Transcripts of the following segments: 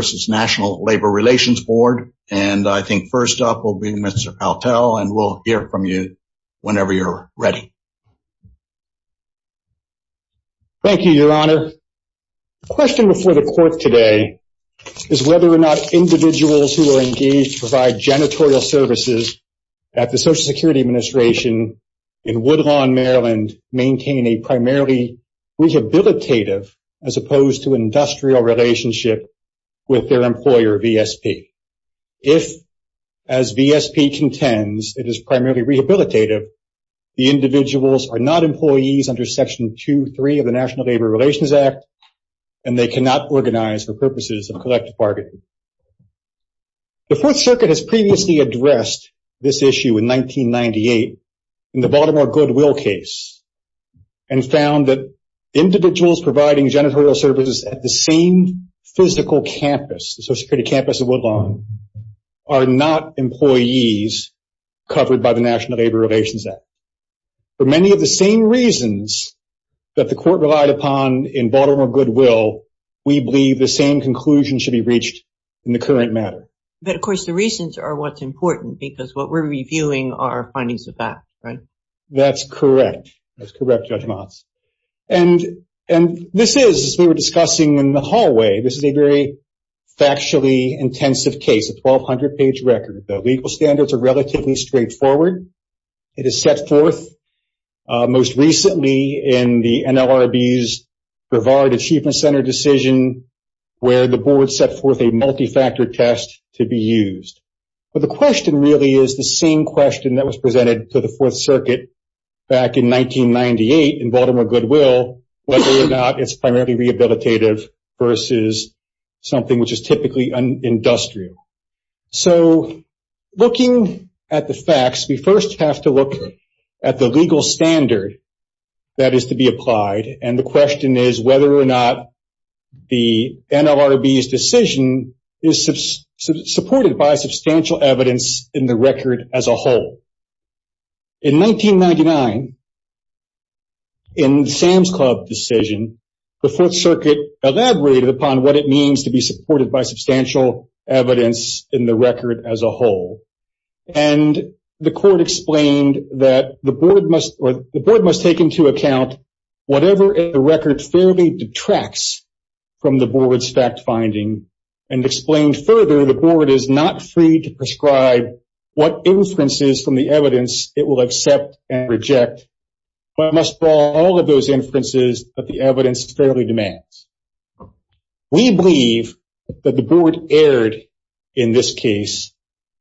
v. National Labor Relations Board, and I think first up will be Mr. Altell, and we'll hear from you whenever you're ready. Thank you, Your Honor. The question before the court today is whether or not individuals who are engaged to provide janitorial services at the Social Security Administration in Woodlawn, Maryland maintain a primarily rehabilitative as opposed to industrial relationship with their employer, VSP. If, as VSP contends, it is primarily rehabilitative, the individuals are not employees under Section 2.3 of the National Labor Relations Act, and they cannot organize for purposes of collective bargaining. The Fourth Circuit has previously addressed this issue in 1998 in the Baltimore Goodwill case and found that individuals providing janitorial services at the same physical campus, the Social Security campus in Woodlawn, are not employees covered by the National Labor Relations Act. For many of the same reasons that the court relied upon in Baltimore Goodwill, we believe the same conclusion should be reached in the current matter. But, of course, the reasons are what's important because what we're reviewing are findings of that, right? That's correct. That's correct, Judge Motz. And this is, as we were discussing in the hallway, this is a very factually intensive case, a 1,200-page record. The legal standards are relatively straightforward. It is set forth most recently in the NLRB's Brevard Achievement Center decision where the board set forth a multi-factor test to be used. But the question really is the same question that was presented to the Fourth Circuit back in 1998 in Baltimore Goodwill, whether or not it's primarily rehabilitative versus something which is typically industrial. So looking at the facts, we first have to look at the legal standard that is to be applied, and the question is whether or not the NLRB's decision is supported by substantial evidence in the record as a whole. In 1999, in Sam's Club decision, the Fourth Circuit elaborated upon what it means to be supported by substantial evidence in the record as a whole. And the court explained that the number in the record fairly detracts from the board's fact-finding, and explained further the board is not free to prescribe what inferences from the evidence it will accept and reject, but must follow all of those inferences that the evidence fairly demands. We believe that the board erred in this case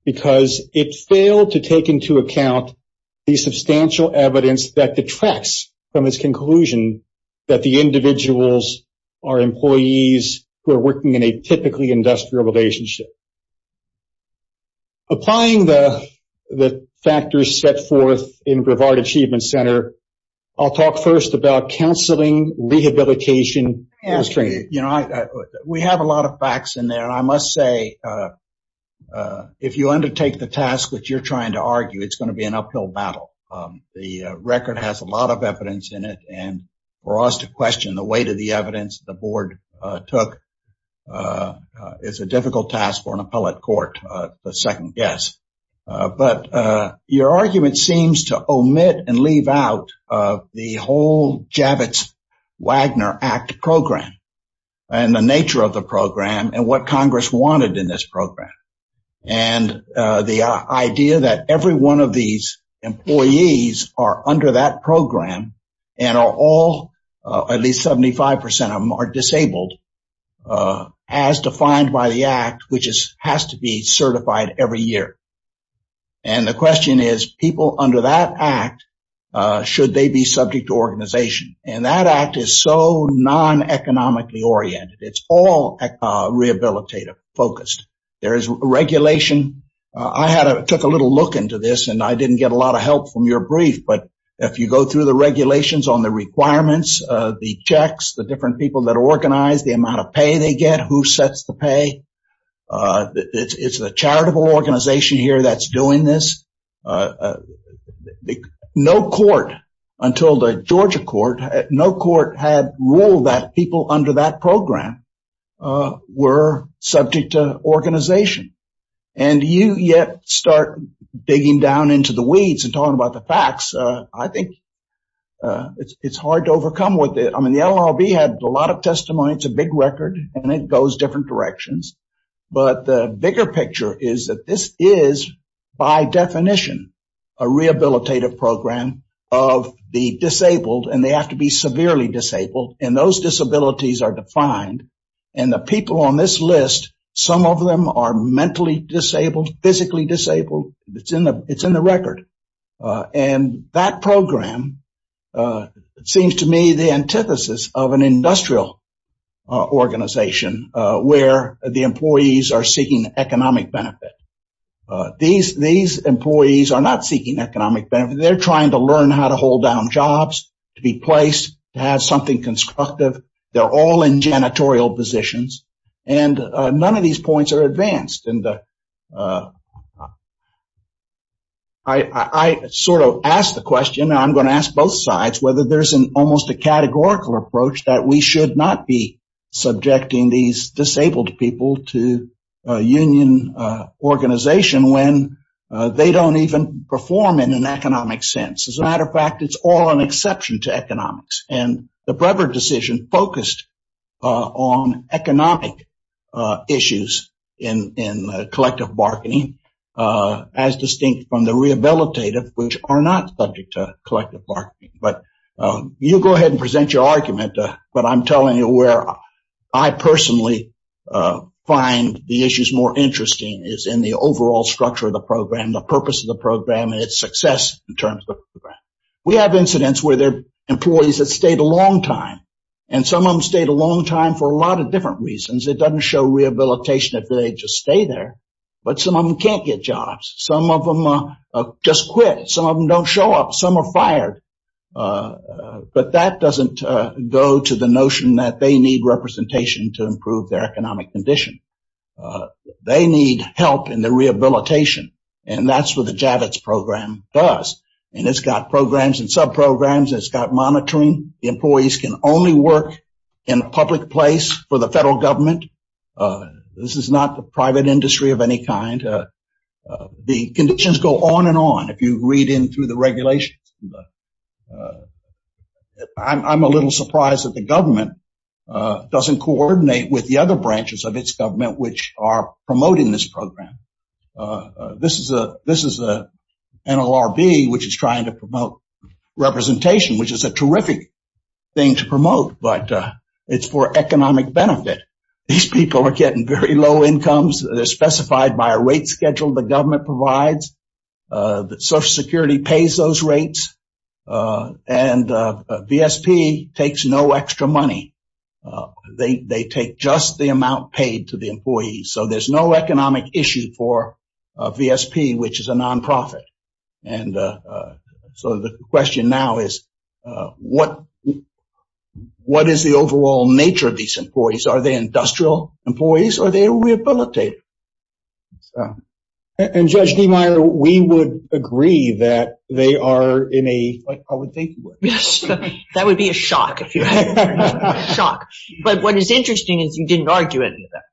because it failed to take into account the that the individuals are employees who are working in a typically industrial relationship. Applying the factors set forth in Brevard Achievement Center, I'll talk first about counseling, rehabilitation, and training. We have a lot of facts in there, and I must say, if you undertake the task that you're trying to argue, it's going to be an uphill battle. The record has a lot of evidence in it, and for us to question the weight of the evidence the board took is a difficult task for an appellate court, the second guess. But your argument seems to omit and leave out the whole Javits-Wagner Act program, and the nature of the program, and what Congress wanted in this program. And the idea that every one of these employees are under that program and are all, at least 75 percent of them, are disabled, as defined by the act, which has to be certified every year. And the question is, people under that act, should they be subject to organization? And that act is so non-economically oriented. It's all rehabilitative focused. There is regulation. I took a little look into this, and I didn't get a lot of help from your brief. But if you go through the regulations on the requirements, the checks, the different people that organize, the amount of pay they get, who sets the pay, it's the charitable organization here that's doing this. No court until the Georgia court, no court had ruled that people under that program were subject to organization. And you yet start digging down into the weeds and talking about the facts. I think it's hard to overcome with it. I mean, the LLB had a lot of testimony. It's a big record, and it goes different directions. But the bigger picture is that this is, by definition, a rehabilitative program of the disabled, and they have to be severely disabled. And those disabilities are defined. And the people on this list, some of them are mentally disabled, physically disabled. It's in the record. And that program seems to me the antithesis of an industrial organization where the employees are seeking economic benefit. These employees are not seeking economic benefit. They're trying to learn how to hold down jobs, to be placed, to have something constructive. They're all in janitorial positions. And none of these points are advanced. And I sort of asked the question, and I'm going to ask both sides, whether there's an almost a categorical approach that we should not be subjecting these disabled people to union organization when they don't even perform in an economic sense. As a matter of fact, it's all an exception to economics. And the Brevard decision focused on economic issues in collective bargaining as distinct from the rehabilitative, which are not subject to collective bargaining. But you go ahead and present your argument. But I'm telling you where I personally find the issues more interesting is in the overall structure of the program, the purpose of the program and its success in terms of the program. We have incidents where there are employees that stayed a long time and some of them stayed a long time for a lot of different reasons. It doesn't show rehabilitation if they just stay there. But some of them can't get jobs. Some of them just quit. Some of them don't show up. Some are fired. But that doesn't go to the notion that they need representation to improve their economic condition. They need help in the rehabilitation. And that's what the Javits program does. And it's got programs and subprograms. It's got monitoring. The employees can only work in a public place for the federal government. This is not the private industry of any kind. The conditions go on and on. If you read in through the regulations. I'm a little surprised that the government doesn't coordinate with the other branches of its government, which are promoting this program. This is a NLRB, which is trying to promote representation, which is a terrific thing to promote. But it's for economic benefit. These people are getting very low incomes. They're specified by a rate schedule the government provides. Social Security pays those rates. And VSP takes no extra money. They take just the amount paid to the employees. So there's no economic issue for VSP, which is a nonprofit. And so the question now is, what is the overall nature of these employees? Are they industrial employees? Are they rehabilitated? And Judge Niemeyer, we would agree that they are in a, like I would think. Yes, that would be a shock. But what is interesting is you didn't argue any of that.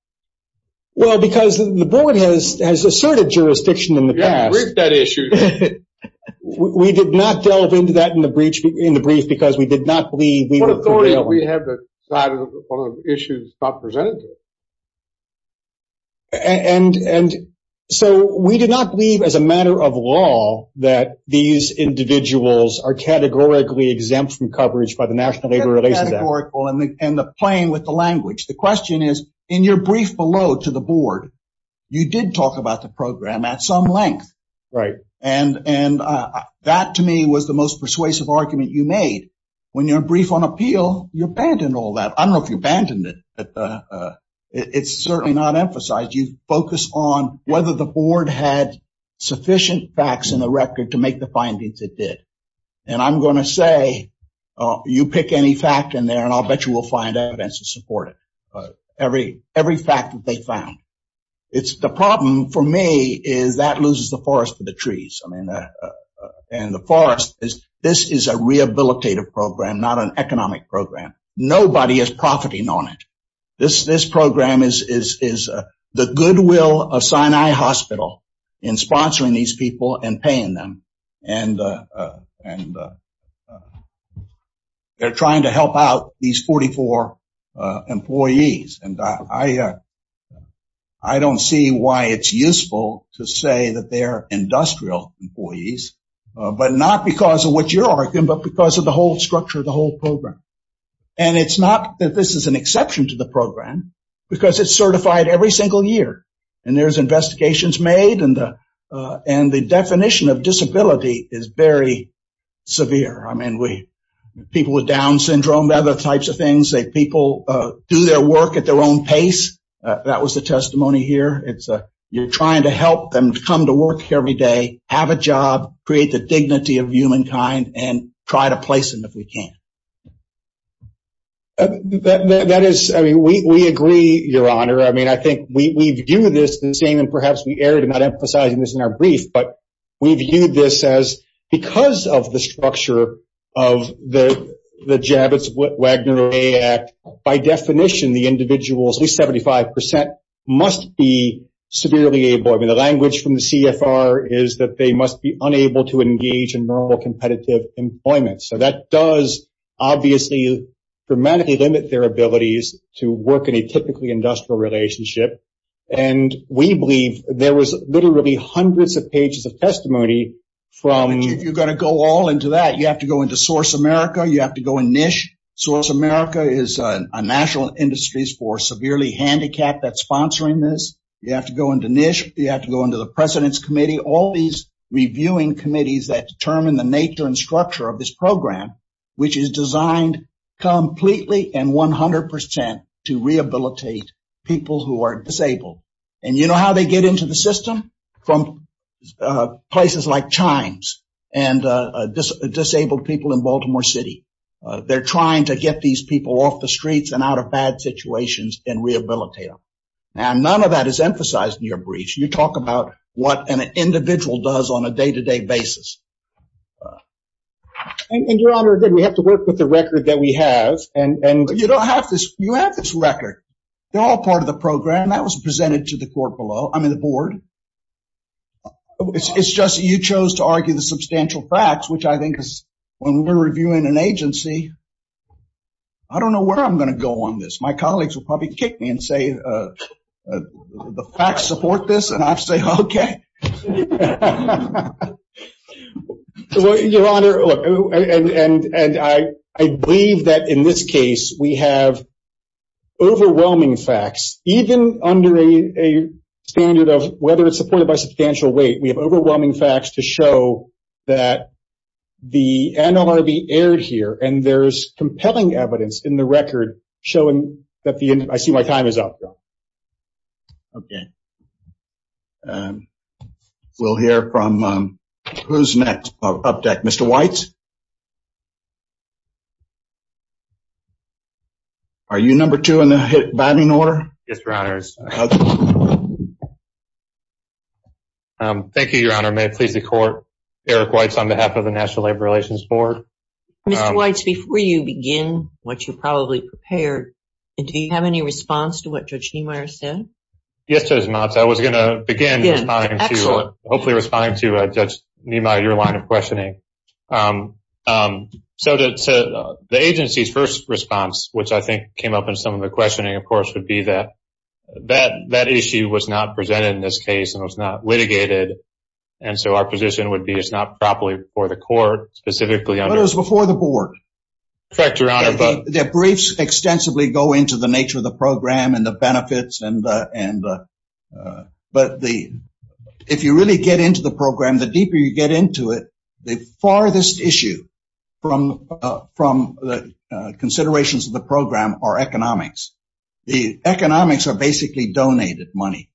Well, because the board has asserted jurisdiction in the past. You haven't briefed that issue. We did not delve into that in the brief because we did not believe we were prevailing. What authority do we have to decide on issues not presented to us? And so we did not believe as a matter of law that these individuals are categorically exempt from coverage by the National Labor Relations Act. Categorical and playing with the language. The question is, in your brief below to the board, you did talk about the program at some length. Right. And that to me was the most persuasive argument you made. When you're brief on appeal, you abandoned all that. I don't know if you abandoned it, but it's certainly not emphasized. You focus on whether the board had sufficient facts in the record to make the findings it did. And I'm going to say, you pick any fact in there and I'll bet you we'll find evidence to support it. Every fact that they found. It's the problem for me is that loses the forest to the trees. I mean, and the forest is this is a rehabilitative program, not an economic program. Nobody is profiting on it. This program is the goodwill of Sinai Hospital in sponsoring these people and paying them. And and they're trying to help out these 44 employees. And I, I don't see why it's useful to say that they're industrial employees, but not because of what you're arguing, but because of the whole structure of the whole program. And it's not that this is an exception to the program because it's certified every single year. And there's investigations made and the and the definition of disability is very severe. I mean, we people with Down syndrome, other types of things that people do their work at their own pace. That was the testimony here. It's you're trying to help them come to work every day, have a job, create the dignity of humankind and try to place them if we can. That is, I mean, we agree, Your Honor. I mean, I think we view this the same and perhaps we erred in not emphasizing this in our brief, but we viewed this as because of the structure of the Javits-Wagner Act, by definition, the individuals, at least 75 percent, must be severely able. I mean, the language from the CFR is that they must be unable to engage in normal competitive employment. So that does obviously dramatically limit their abilities to work in a typically industrial relationship. And we believe there was literally hundreds of pages of testimony from. You're going to go all into that. You have to go into Source America. You have to go in NISH. Source America is a national industries for severely handicapped that's sponsoring this. You have to go into NISH. You have to go into the president's committee. All these reviewing committees that determine the nature and structure of this program, which is designed completely and 100 percent to rehabilitate people who are disabled. And you know how they get into the system from places like Chimes and disabled people in Baltimore City. They're trying to get these people off the streets and out of bad situations and rehabilitate them. And none of that is emphasized in your brief. You talk about what an individual does on a day to day basis. And your honor, we have to work with the record that we have. And you don't have this. You have this record. They're all part of the program that was presented to the court below. I mean, the board. It's just you chose to argue the substantial facts, which I think is when we're reviewing an agency. I don't know where I'm going to go on this. My colleagues will probably kick me and say the facts support this. And I'd say, OK. Your honor, and I believe that in this case, we have overwhelming facts, even under a standard of whether it's supported by substantial weight. We have overwhelming facts to show that the NLRB aired here and there's compelling evidence in the record showing that the I see my time is up. OK. We'll hear from who's next. Up deck, Mr. White. Are you number two in the batting order? Yes, your honors. Thank you, your honor. May it please the court. Eric Weitz on behalf of the National Labor Relations Board. Mr. Weitz, before you begin what you probably prepared, do you have any response to what Judge Niemeyer said? Yes, Judge Motz. I was going to begin to hopefully respond to Judge Niemeyer, your line of questioning. So the agency's first response, which I think came up in some of the questioning, of course, would be that that that issue was not presented in this case and was not litigated. And so our position would be it's not properly before the court, specifically before the board. Correct, your honor. Their briefs extensively go into the nature of the program and the benefits. And and but the if you really get into the program, the deeper you get into it, the farthest issue from from the considerations of the program are economics. The economics are basically donated money.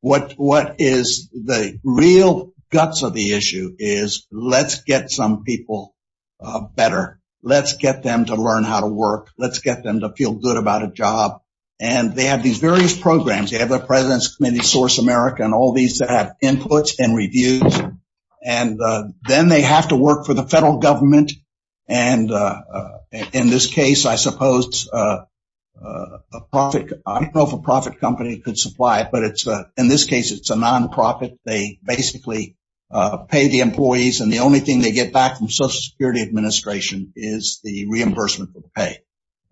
What what is the real guts of the issue is let's get some people better. Let's get them to learn how to work. Let's get them to feel good about a job. And they have these various programs. They have their president's committee, Source America and all these that have inputs and reviews. And then they have to work for the federal government. And in this case, I suppose a profit, I don't know if a profit company could supply it, but it's in this case, it's a nonprofit. They basically pay the employees. And the only thing they get back from Social Security Administration is the reimbursement of pay.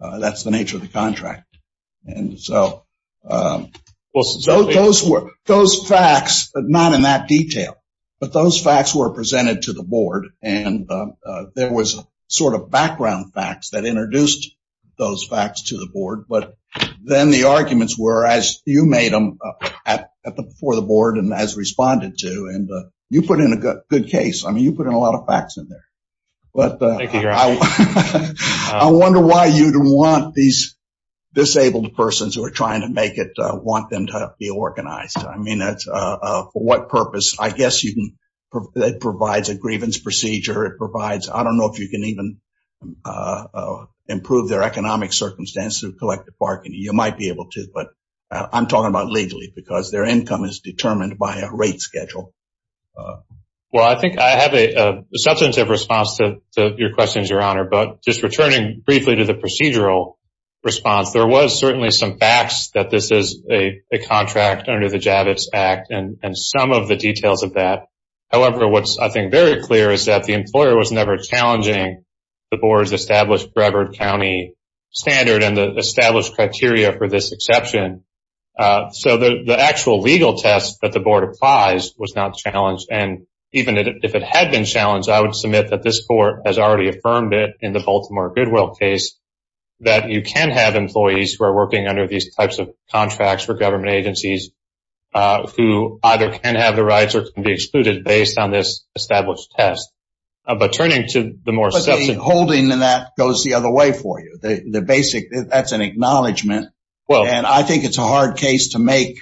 That's the nature of the contract. And so those were those facts, but not in that detail. But those facts were presented to the board and there was a sort of background facts that introduced those facts to the board. But then the arguments were, as you made them for the board and as responded to. And you put in a good case. I mean, you put in a lot of facts in there, but I wonder why you don't want these disabled persons who are trying to make it want them to be organized. I mean, that's for what purpose? I guess you can provide a grievance procedure. It provides, I don't know if you can even improve their economic circumstance through collective bargaining. You might be able to, but I'm talking about legally because their income is determined by a rate schedule. Well, I think I have a substantive response to your questions, Your Honor, but just returning briefly to the procedural response. There was certainly some facts that this is a contract under the Javits Act and some of the details of that. However, what's I think very clear is that the employer was never challenging the board's established Brevard County standard and the established criteria for this exception. So the actual legal test that the board applies was not challenged. And even if it had been challenged, I would submit that this court has already affirmed it in the Baltimore Goodwill case that you can have employees who are working under these types of contracts for government agencies who either can have the rights or can be excluded based on this established test. But turning to the more substantive... Holding that goes the other way for you. The basic, that's an acknowledgment. Well, and I think it's a hard case to make.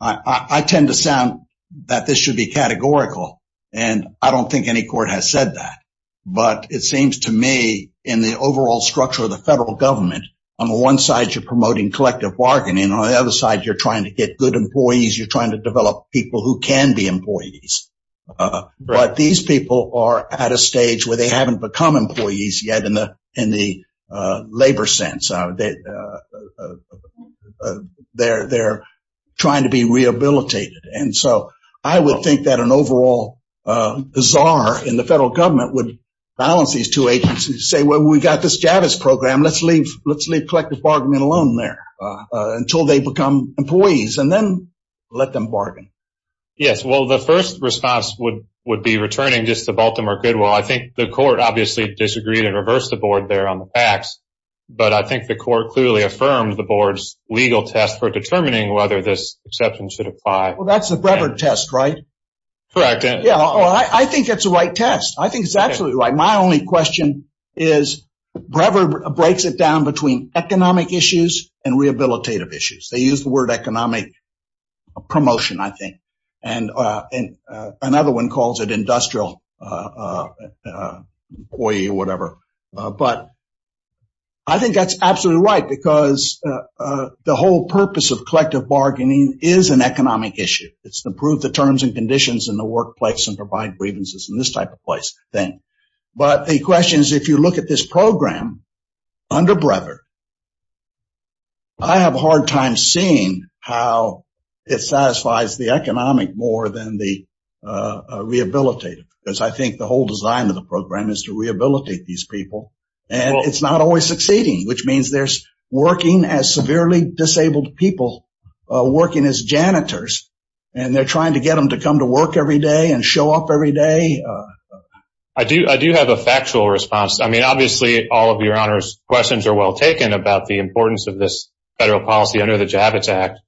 I tend to sound that this should be categorical, and I don't think any court has said that. But it seems to me in the overall structure of the federal government, on the one side, you're promoting collective bargaining. On the other side, you're trying to get good employees. You're trying to develop people who can be employees. But these people are at a stage where they haven't become employees yet in the labor sense. They're trying to be rehabilitated. And so I would think that an overall czar in the federal government would balance these two agencies, say, well, we've got this Javits program. Let's leave collective bargaining alone there until they become employees and then let them bargain. Yes, well, the first response would be returning just to Baltimore Goodwill. I think the court obviously disagreed and reversed the board there on the PACs. But I think the court clearly affirmed the board's legal test for determining whether this acceptance should apply. Well, that's the Brevard test, right? Correct. Yeah, I think it's the right test. I think it's absolutely right. My only question is Brevard breaks it down between economic issues and rehabilitative issues. They use the word economic promotion, I think, and another one calls it industrial employee or whatever. But I think that's absolutely right, because the whole purpose of collective bargaining is an economic issue. It's to prove the terms and conditions in the workplace and provide grievances in this type of place. Then, but the question is, if you look at this program under Brevard. I have a hard time seeing how it satisfies the economic more than the rehabilitative, because I think the whole design of the program is to rehabilitate these people. And it's not always succeeding, which means there's working as severely disabled people, working as janitors. And they're trying to get them to come to work every day and show up every day. I do I do have a factual response. I mean, obviously, all of your honors questions are well taken about the importance of this federal policy under the Javits Act.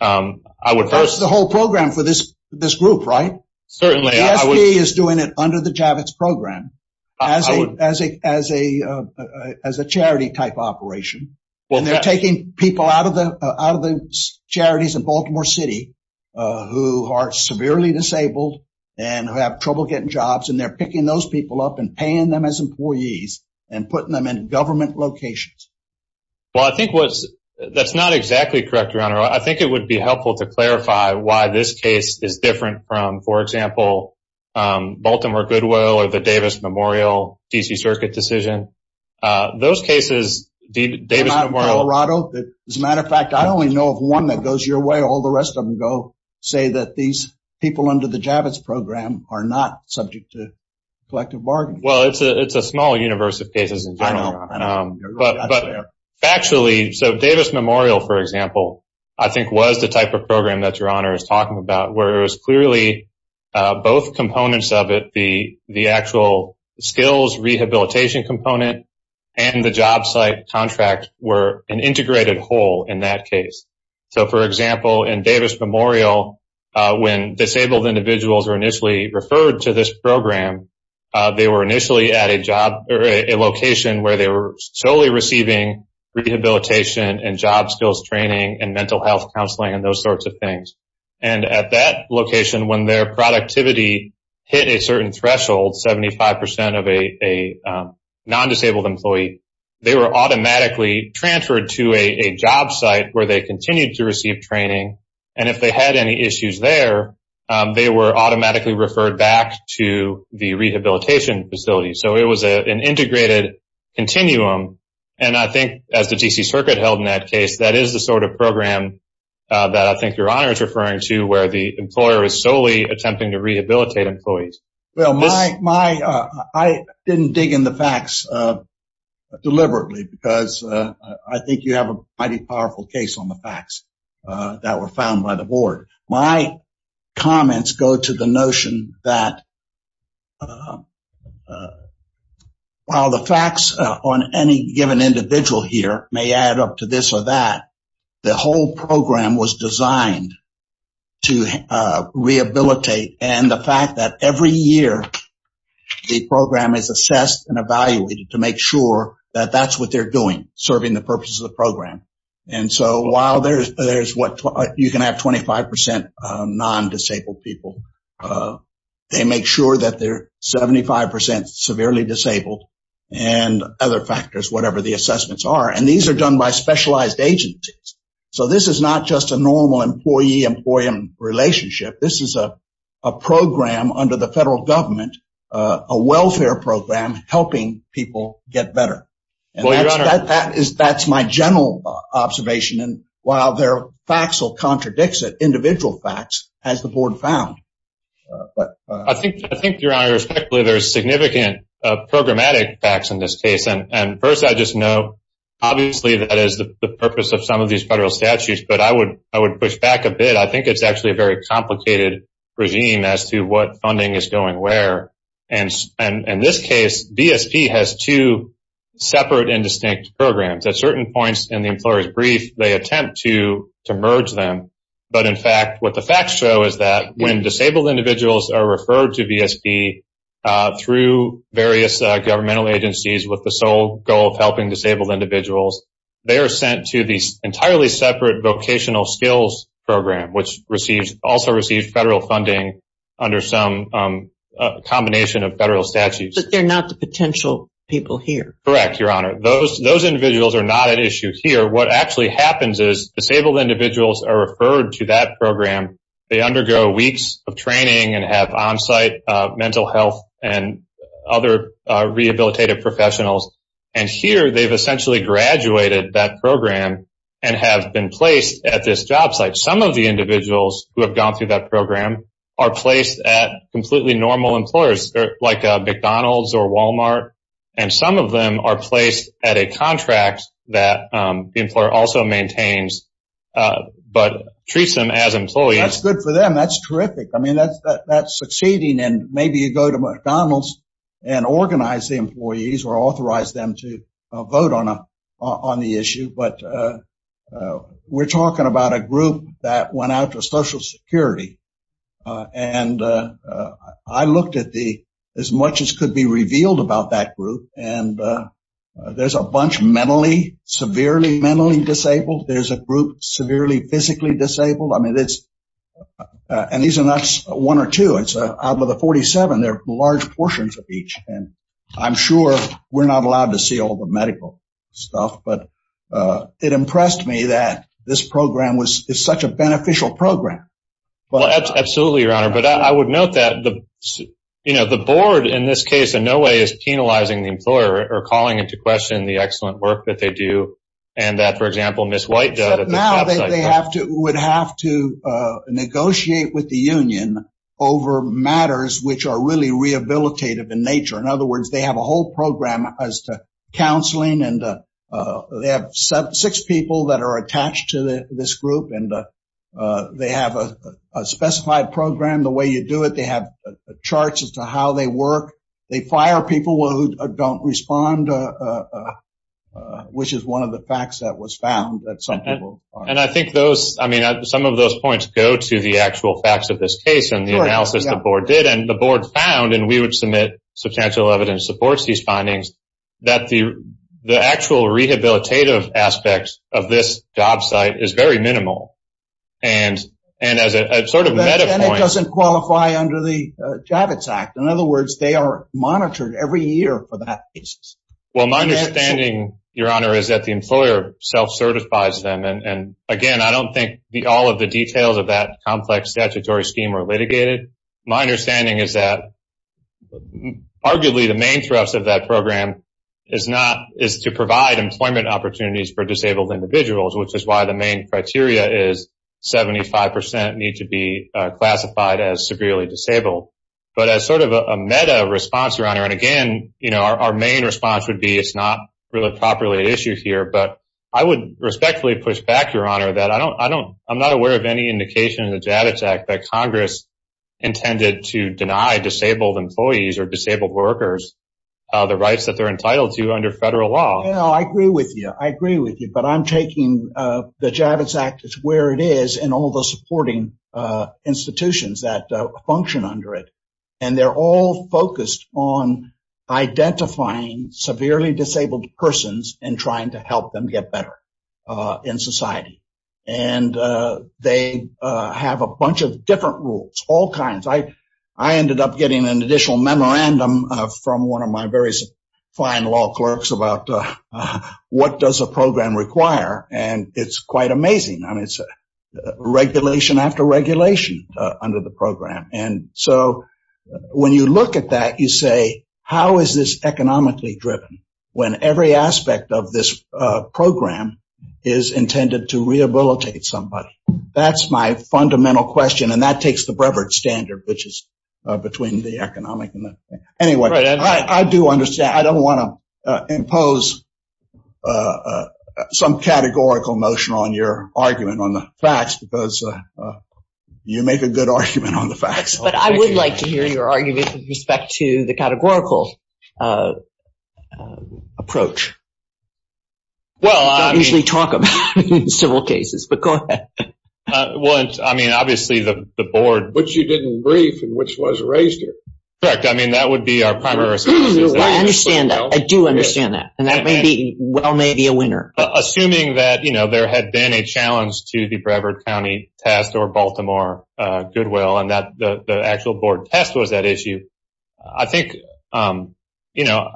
I would first the whole program for this, this group, right? Certainly is doing it under the Javits program as a as a as a as a charity type operation. Well, they're taking people out of the out of the charities in Baltimore City who are severely disabled and have trouble getting jobs. And they're picking those people up and paying them as employees and putting them in government locations. Well, I think what's that's not exactly correct, your honor. I think it would be helpful to clarify why this case is different from, for example, Baltimore Goodwill or the Davis Memorial D.C. Circuit decision. Those cases, the Davis Memorial, Colorado, as a matter of fact, I only know of one that goes your way. All the rest of them go say that these people under the Javits program are not subject to collective bargaining. Well, it's a it's a small universe of cases. I know. But actually, so Davis Memorial, for example, I think was the type of program that your honor is talking about, where it was clearly both components of it. The the actual skills rehabilitation component and the job site contract were an integrated whole in that case. So, for example, in Davis Memorial, when disabled individuals are initially referred to this program, they were initially at a job or a location where they were solely receiving rehabilitation and job skills training and mental health counseling and those sorts of things. And at that location, when their productivity hit a certain threshold, 75 percent of a non-disabled employee, they were automatically transferred to a job site where they continued to receive training. And if they had any issues there, they were automatically referred back to the rehabilitation facility. So it was an integrated continuum. And I think as the D.C. Circuit held in that case, that is the sort of program that I think your honor is referring to, where the employer is solely attempting to rehabilitate employees. Well, my my I didn't dig in the facts deliberately because I think you have a mighty powerful case on the facts. That were found by the board. My comments go to the notion that. While the facts on any given individual here may add up to this or that, the whole program was designed to rehabilitate and the fact that every year the program is assessed and evaluated to make sure that that's what they're doing, serving the purpose of the program. And so while there's there's what you can have, 25 percent non-disabled people, they make sure that they're 75 percent severely disabled and other factors, whatever the assessments are. And these are done by specialized agencies. So this is not just a normal employee employee relationship. This is a program under the federal government, a welfare program helping people get better. And that is that's my general observation. And while there are facts that contradicts it, individual facts, as the board found. I think I think your honor, there's significant programmatic facts in this case. And first, I just know, obviously, that is the purpose of some of these federal statutes. But I would I would push back a bit. I think it's actually a very complicated regime as to what funding is going where. And in this case, VSP has two separate and distinct programs at certain points in the employer's brief. They attempt to to merge them. But in fact, what the facts show is that when disabled individuals are referred to VSP through various governmental agencies with the sole goal of helping disabled individuals, they are sent to these entirely separate vocational skills program, which receives also received federal funding under some combination of federal statutes. But they're not the potential people here. Correct. Your honor, those those individuals are not an issue here. What actually happens is disabled individuals are referred to that program. They undergo weeks of training and have on site mental health and other rehabilitative professionals. And here they've essentially graduated that program and have been placed at this job site. Some of the individuals who have gone through that program are placed at completely normal employers like McDonald's or Walmart. And some of them are placed at a contract that the employer also maintains, but treats them as employees. That's good for them. That's terrific. I mean, that's that's succeeding. And maybe you go to McDonald's and organize the employees or authorize them to vote on a on the issue. But we're talking about a group that went out to Social Security. And I looked at the as much as could be revealed about that group. And there's a bunch mentally, severely mentally disabled. There's a group severely physically disabled. I mean, it's and these are not one or two. It's out of the 47. They're large portions of each. And I'm sure we're not allowed to see all the medical stuff. But it impressed me that this program was such a beneficial program. Well, absolutely, your honor. But I would note that the you know, the board in this case in no way is penalizing the employer or calling into question the excellent work that they do. And that, for example, Miss White would have to negotiate with the union over matters which are really rehabilitative in nature. In other words, they have a whole program as to counseling. And they have six people that are attached to this group. And they have a specified program. The way you do it, they have charts as to how they work. They fire people who don't respond, which is one of the facts that was found that some people. And I think those I mean, some of those points go to the actual facts of this case and the analysis the board did. And the board found and we would submit substantial evidence supports these findings that the the actual rehabilitative aspects of this job site is very minimal. And and as a sort of meta point, it doesn't qualify under the Javits Act. In other words, they are monitored every year for that. Well, my understanding, Your Honor, is that the employer self certifies them. And again, I don't think all of the details of that complex statutory scheme are litigated. My understanding is that arguably the main thrust of that program is not is to provide employment opportunities for disabled individuals, which is why the main criteria is 75 percent need to be classified as severely disabled. But as sort of a meta response, Your Honor, and again, you know, our main response would be it's not really properly an issue here. But I would respectfully push back, Your Honor, that I don't I don't I'm not aware of any indication in the Javits Act that Congress intended to deny disabled employees or disabled workers the rights that they're entitled to under federal law. I agree with you. I agree with you. But I'm taking the Javits Act is where it is and all the supporting institutions that function under it. And they're all focused on identifying severely disabled persons and trying to help them get better in society. And they have a bunch of different rules, all kinds. I ended up getting an additional memorandum from one of my various fine law clerks about what does a program require? And it's quite amazing. I mean, it's a regulation after regulation under the program. And so when you look at that, you say, how is this economically driven when every aspect of this program is intended to rehabilitate somebody? That's my fundamental question. And that takes the Brevard standard, which is between the economic and the anyway, I do understand. I don't want to impose some categorical motion on your argument on the facts because you make a good argument on the facts. But I would like to hear your argument with respect to the categorical approach. Well, I usually talk about civil cases, but go ahead. Well, I mean, obviously, the board, which you didn't brief and which was raised. Correct. I mean, that would be our primary. I understand that. I do understand that. And that may be well, maybe a winner. Assuming that, you know, there had been a challenge to the Brevard County test or Baltimore Goodwill and that the actual board test was that issue. I think, you know,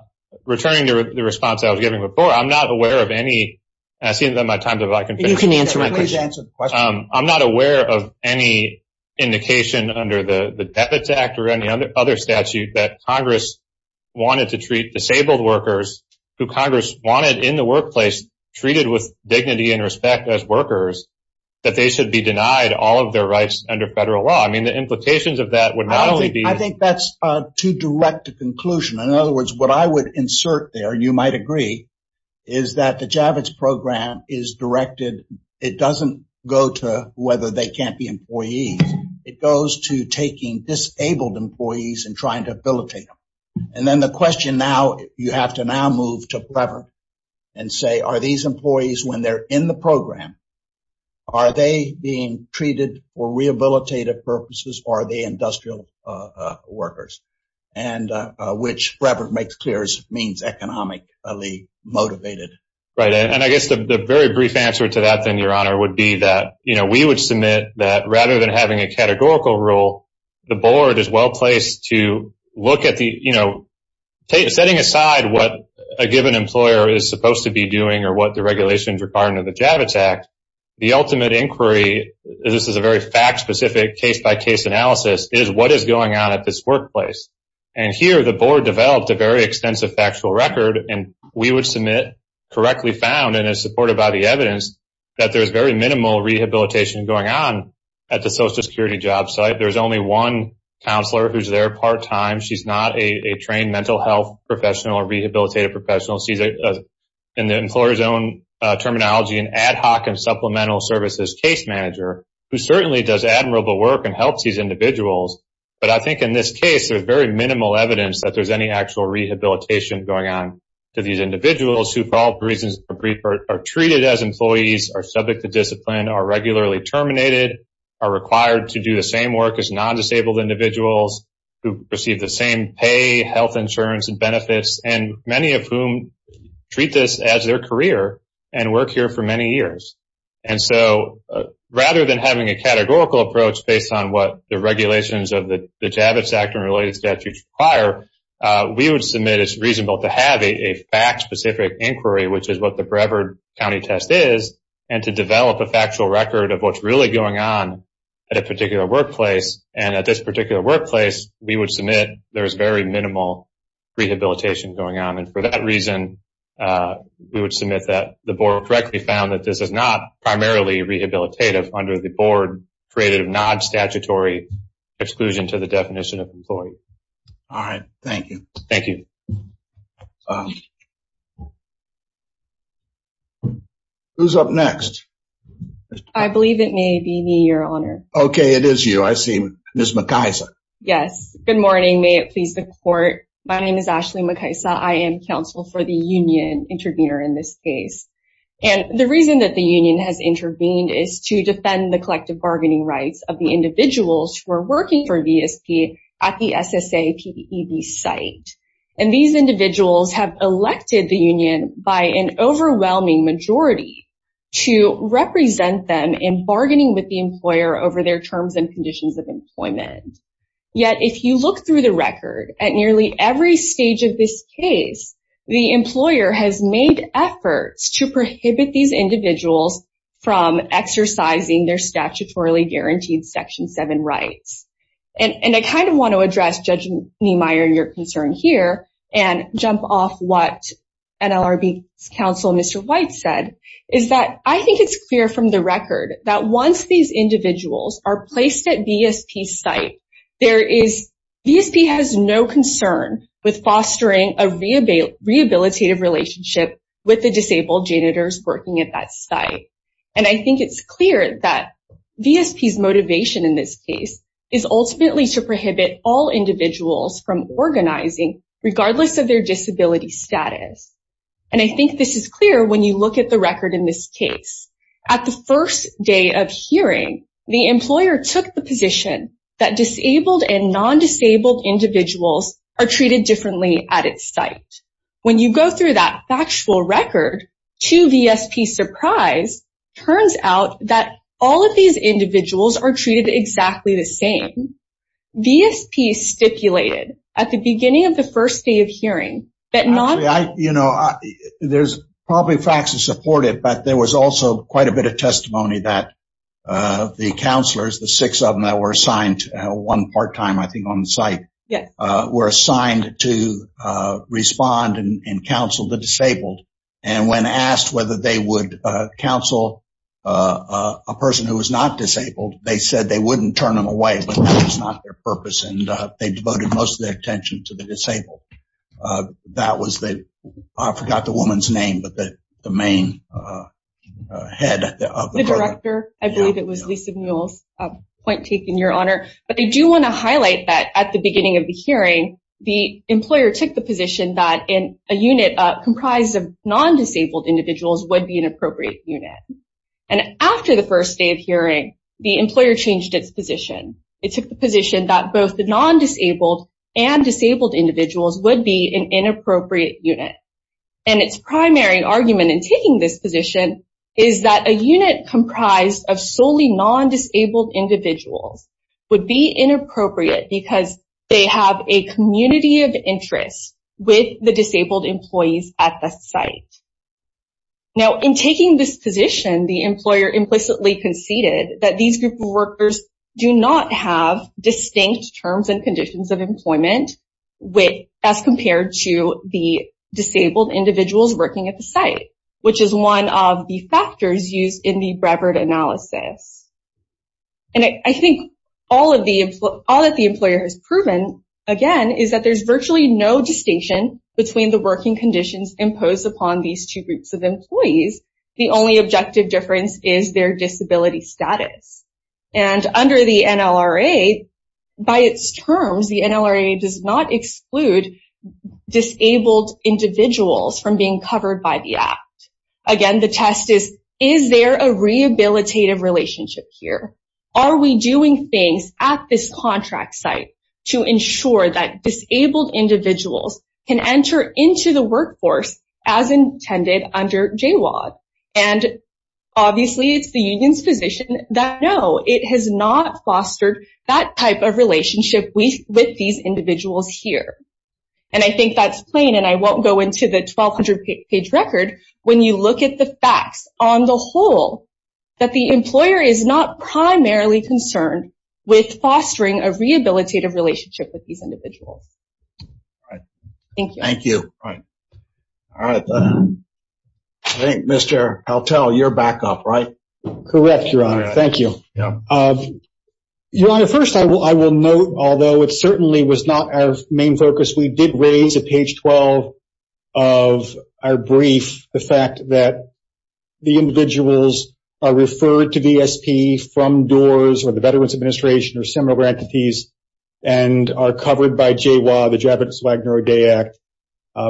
returning to the response I was giving before, I'm not aware of any. I see that my time is up. You can answer my question. Please answer the question. I'm not aware of any indication under the Debit Act or any other statute that Congress wanted to treat disabled workers who Congress wanted in the workplace, treated with dignity and respect as workers, that they should be denied all of their rights under federal law. I mean, the implications of that would not only be. I think that's too direct a conclusion. In other words, what I would insert there, you might agree, is that the Javits program is directed. It doesn't go to whether they can't be employees. It goes to taking disabled employees and trying to abilitate them. And then the question now, you have to now move to Brevard and say, are these employees when they're in the program? Are they being treated for rehabilitative purposes? Are they industrial workers? And which Brevard makes clear means economically motivated. Right. And I guess the very brief answer to that, then, Your Honor, would be that, you know, we would submit that rather than having a categorical rule, the board is well placed to look at the, you know, setting aside what a given employer is supposed to be doing or what the regulations are part of the Javits Act. The ultimate inquiry, this is a very fact-specific case-by-case analysis, is what is going on at this workplace. And here the board developed a very extensive factual record, and we would submit correctly found and as supported by the evidence that there's very minimal rehabilitation going on at the Social Security job site. There's only one counselor who's there part-time. She's not a trained mental health professional or rehabilitative professional. She's, in the employer's own terminology, an ad hoc and supplemental services case manager, who certainly does admirable work and helps these individuals. But I think in this case there's very minimal evidence that there's any actual rehabilitation going on to these individuals who for all reasons are treated as employees, are subject to discipline, are regularly terminated, are required to do the same work as non-disabled individuals who receive the same pay, health insurance and benefits, and many of whom treat this as their career and work here for many years. And so rather than having a categorical approach based on what the regulations of the Javits Act and related statutes require, we would submit it's reasonable to have a fact-specific inquiry, which is what the Brevard County test is, and to develop a factual record of what's really going on at a particular workplace. And at this particular workplace, we would submit there's very minimal rehabilitation going on. And for that reason, we would submit that the board correctly found that this is not primarily rehabilitative under the board-created, non-statutory exclusion to the definition of employee. All right. Thank you. Thank you. Who's up next? I believe it may be me, Your Honor. Okay, it is you. I see Ms. McIsa. Yes. Good morning. May it please the Court. My name is Ashley McIsa. I am counsel for the union intervener in this case. And the reason that the union has intervened is to defend the collective bargaining rights of the individuals who are working for VSP at the SSA PDEB site. And these individuals have elected the union by an overwhelming majority to represent them in bargaining with the employer over their terms and conditions of employment. Yet, if you look through the record, at nearly every stage of this case, the employer has made efforts to prohibit these individuals from exercising their statutorily guaranteed Section 7 rights. And I kind of want to address, Judge Niemeyer, your concern here and jump off what NLRB's counsel, Mr. White, said, is that I think it's clear from the record that once these individuals are placed at VSP's site, VSP has no concern with fostering a rehabilitative relationship with the disabled janitors working at that site. And I think it's clear that VSP's motivation in this case is ultimately to prohibit all individuals from organizing, regardless of their disability status. And I think this is clear when you look at the record in this case. At the first day of hearing, the employer took the position that disabled and non-disabled individuals are treated differently at its site. When you go through that factual record, to VSP's surprise, turns out that all of these individuals are treated exactly the same. VSP stipulated at the beginning of the first day of hearing that non- There's probably facts to support it, but there was also quite a bit of testimony that the counselors, the six of them that were assigned one part-time, I think, on the site, were assigned to respond and counsel the disabled. And when asked whether they would counsel a person who was not disabled, they said they wouldn't turn them away, but that was not their purpose, and they devoted most of their attention to the disabled. That was the, I forgot the woman's name, but the main head of the program. The director, I believe it was Lisa Mule's point taken, Your Honor. But I do want to highlight that at the beginning of the hearing, the employer took the position that a unit comprised of non-disabled individuals would be an appropriate unit. And after the first day of hearing, the employer changed its position. It took the position that both the non-disabled and disabled individuals would be an inappropriate unit. And its primary argument in taking this position is that a unit comprised of solely non-disabled individuals would be inappropriate because they have a community of interest with the disabled employees at the site. Now, in taking this position, the employer implicitly conceded that these group of workers do not have distinct terms and conditions of employment as compared to the disabled individuals working at the site, which is one of the factors used in the Brevard analysis. And I think all that the employer has proven, again, is that there's virtually no distinction between the working conditions imposed upon these two groups of employees. The only objective difference is their disability status. And under the NLRA, by its terms, the NLRA does not exclude disabled individuals from being covered by the Act. Again, the test is, is there a rehabilitative relationship here? Are we doing things at this contract site to ensure that disabled individuals can enter into the workforce as intended under JWAG? And, obviously, it's the union's position that, no, it has not fostered that type of relationship with these individuals here. And I think that's plain, and I won't go into the 1,200-page record, when you look at the facts on the whole, that the employer is not primarily concerned with fostering a rehabilitative relationship with these individuals. Thank you. Thank you. All right. I think, Mr. Haltel, you're back up, right? Correct, Your Honor. Thank you. Your Honor, first I will note, although it certainly was not our main focus, we did raise at page 12 of our brief the fact that the individuals are referred to VSP from DOORS or the Veterans Administration or similar entities and are covered by JWAG, the Javits, Wagner, or Day Act.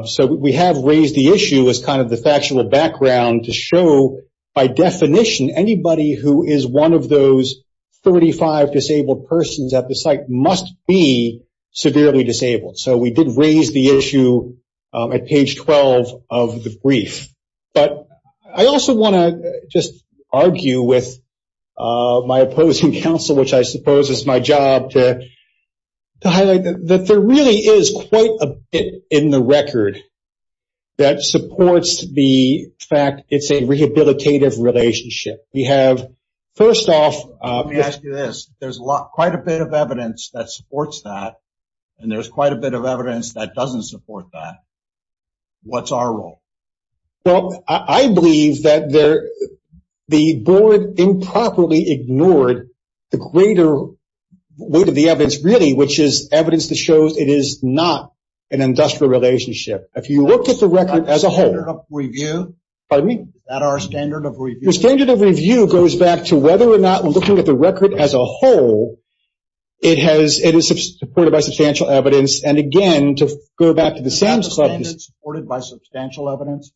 So we have raised the issue as kind of the factual background to show, by definition, anybody who is one of those 35 disabled persons at the site must be severely disabled. So we did raise the issue at page 12 of the brief. But I also want to just argue with my opposing counsel, which I suppose is my job, to highlight that there really is quite a bit in the record that supports the fact it's a rehabilitative relationship. We have, first off ---- Let me ask you this. There's quite a bit of evidence that supports that, and there's quite a bit of evidence that doesn't support that. What's our role? Well, I believe that the board improperly ignored the greater weight of the evidence, really, which is evidence that shows it is not an industrial relationship. If you look at the record as a whole ---- Is that our standard of review? Pardon me? Is that our standard of review? The standard of review goes back to whether or not, looking at the record as a whole, it is supported by substantial evidence. And, again, to go back to the Sam's Club ---- Is that the standard supported by substantial evidence?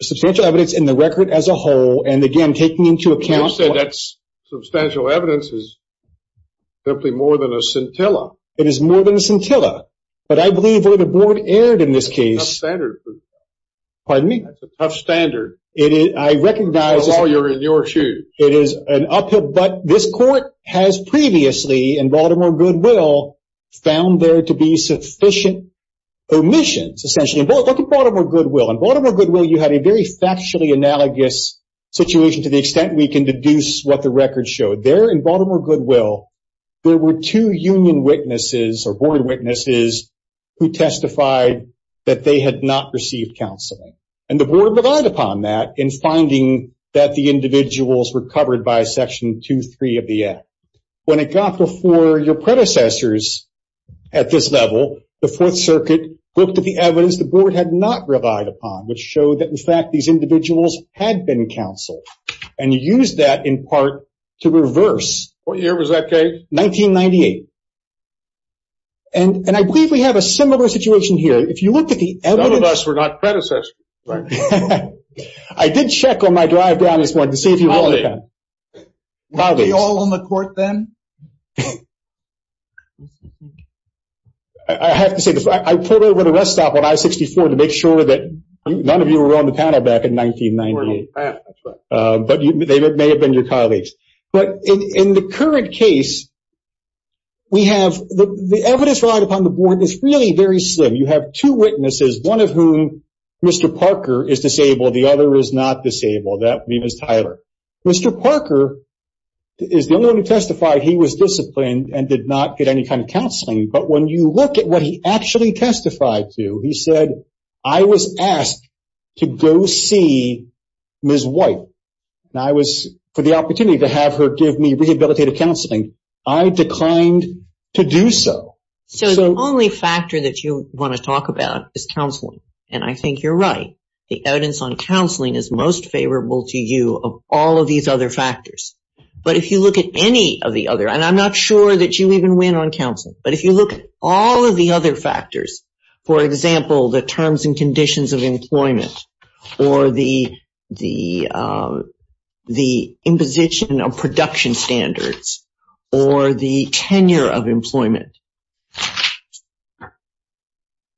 Substantial evidence in the record as a whole, and, again, taking into account ---- You said that substantial evidence is simply more than a scintilla. It is more than a scintilla. But I believe where the board erred in this case ---- That's a tough standard. Pardon me? That's a tough standard. I recognize ---- It's a law you're in your shoes. It is an uphill ---- But this court has previously, in Baltimore Goodwill, found there to be sufficient omissions, essentially. Look at Baltimore Goodwill. In Baltimore Goodwill, you had a very factually analogous situation to the extent we can deduce what the record showed. There, in Baltimore Goodwill, there were two union witnesses or board witnesses who testified that they had not received counseling. And the board relied upon that in finding that the individuals were covered by Section 2.3 of the Act. When it got before your predecessors at this level, the Fourth Circuit looked at the evidence the board had not relied upon, which showed that, in fact, these individuals had been counseled, and used that, in part, to reverse ---- What year was that case? 1998. And I believe we have a similar situation here. If you looked at the evidence ---- I did check on my drive down this morning to see if you were on the panel. Were we all on the court then? I have to say this. I pulled over the rest stop on I-64 to make sure that none of you were on the panel back in 1998. But they may have been your colleagues. But in the current case, the evidence relied upon the board is really very slim. You have two witnesses, one of whom, Mr. Parker, is disabled. The other is not disabled. That would be Ms. Tyler. Mr. Parker is the only one who testified he was disciplined and did not get any kind of counseling. But when you look at what he actually testified to, he said, I was asked to go see Ms. White for the opportunity to have her give me rehabilitative counseling. I declined to do so. So the only factor that you want to talk about is counseling. And I think you're right. The evidence on counseling is most favorable to you of all of these other factors. But if you look at any of the other, and I'm not sure that you even went on counseling, but if you look at all of the other factors, for example, the terms and conditions of employment or the imposition of production standards or the tenure of employment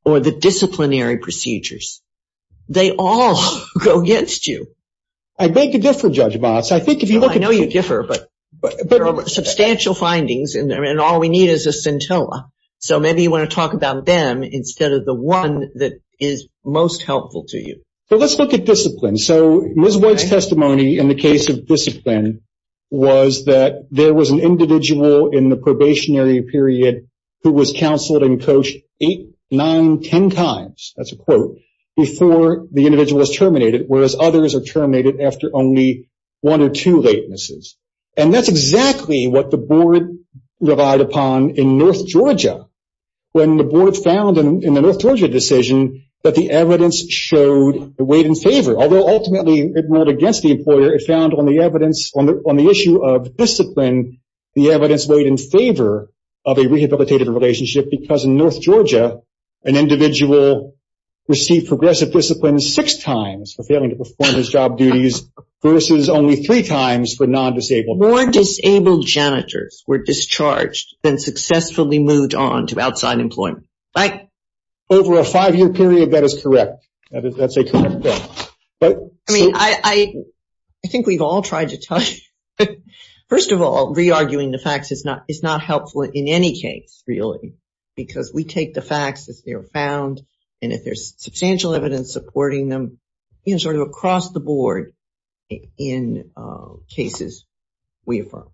or the disciplinary procedures, they all go against you. I think you're different, Judge Moss. I know you differ, but there are substantial findings, and all we need is a scintilla. So maybe you want to talk about them instead of the one that is most helpful to you. Well, let's look at discipline. So Ms. White's testimony in the case of discipline was that there was an individual in the probationary period who was counseled and coached eight, nine, ten times, that's a quote, before the individual was terminated, whereas others are terminated after only one or two latenesses. And that's exactly what the board relied upon in North Georgia when the board found in the North Georgia decision that the evidence showed it weighed in favor, although ultimately it ruled against the employer. It found on the issue of discipline the evidence weighed in favor of a rehabilitative relationship because in North Georgia an individual received progressive discipline six times for failing to perform his job duties versus only three times for non-disabled. More disabled janitors were discharged than successfully moved on to outside employment. Over a five-year period, that is correct. That's a correct guess. I mean, I think we've all tried to tell you. First of all, re-arguing the facts is not helpful in any case, really, because we take the facts as they were found, and if there's substantial evidence supporting them, you know, sort of across the board in cases we have found.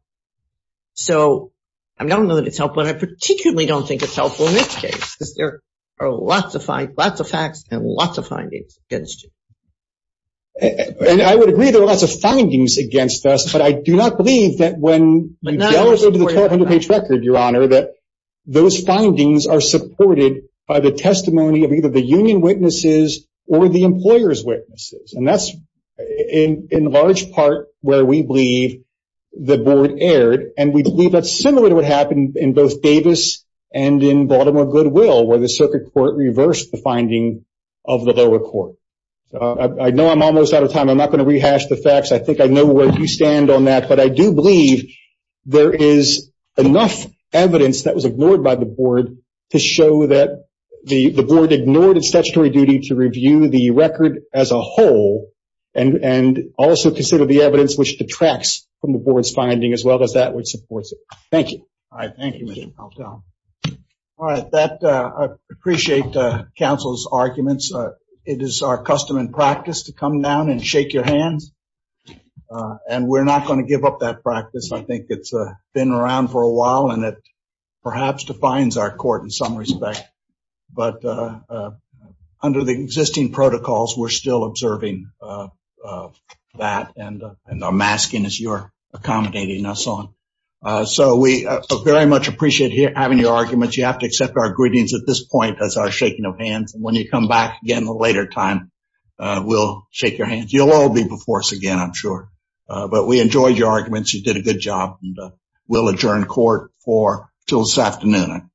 So I don't know that it's helpful, and I particularly don't think it's helpful in this case because there are lots of facts and lots of findings against you. And I would agree there are lots of findings against us, but I do not believe that when you delve into the 1,200-page record, Your Honor, that those findings are supported by the testimony of either the union witnesses or the employer's witnesses. And that's in large part where we believe the board erred, and we believe that's similar to what happened in both Davis and in Baltimore Goodwill, where the circuit court reversed the finding of the lower court. I know I'm almost out of time. I'm not going to rehash the facts. I think I know where you stand on that. But I do believe there is enough evidence that was ignored by the board to show that the board ignored its statutory duty to review the record as a whole and also consider the evidence which detracts from the board's finding as well as that which supports it. Thank you. All right. Thank you, Mr. Paltrow. All right. I appreciate counsel's arguments. It is our custom and practice to come down and shake your hands, and we're not going to give up that practice. I think it's been around for a while, and it perhaps defines our court in some respect, but under the existing protocols, we're still observing that and are masking as you're accommodating us on. So we very much appreciate having your arguments. You have to accept our greetings at this point as our shaking of hands, and when you come back again at a later time, we'll shake your hands. You'll all be before us again, I'm sure. But we enjoyed your arguments. You did a good job, and we'll adjourn court until this afternoon.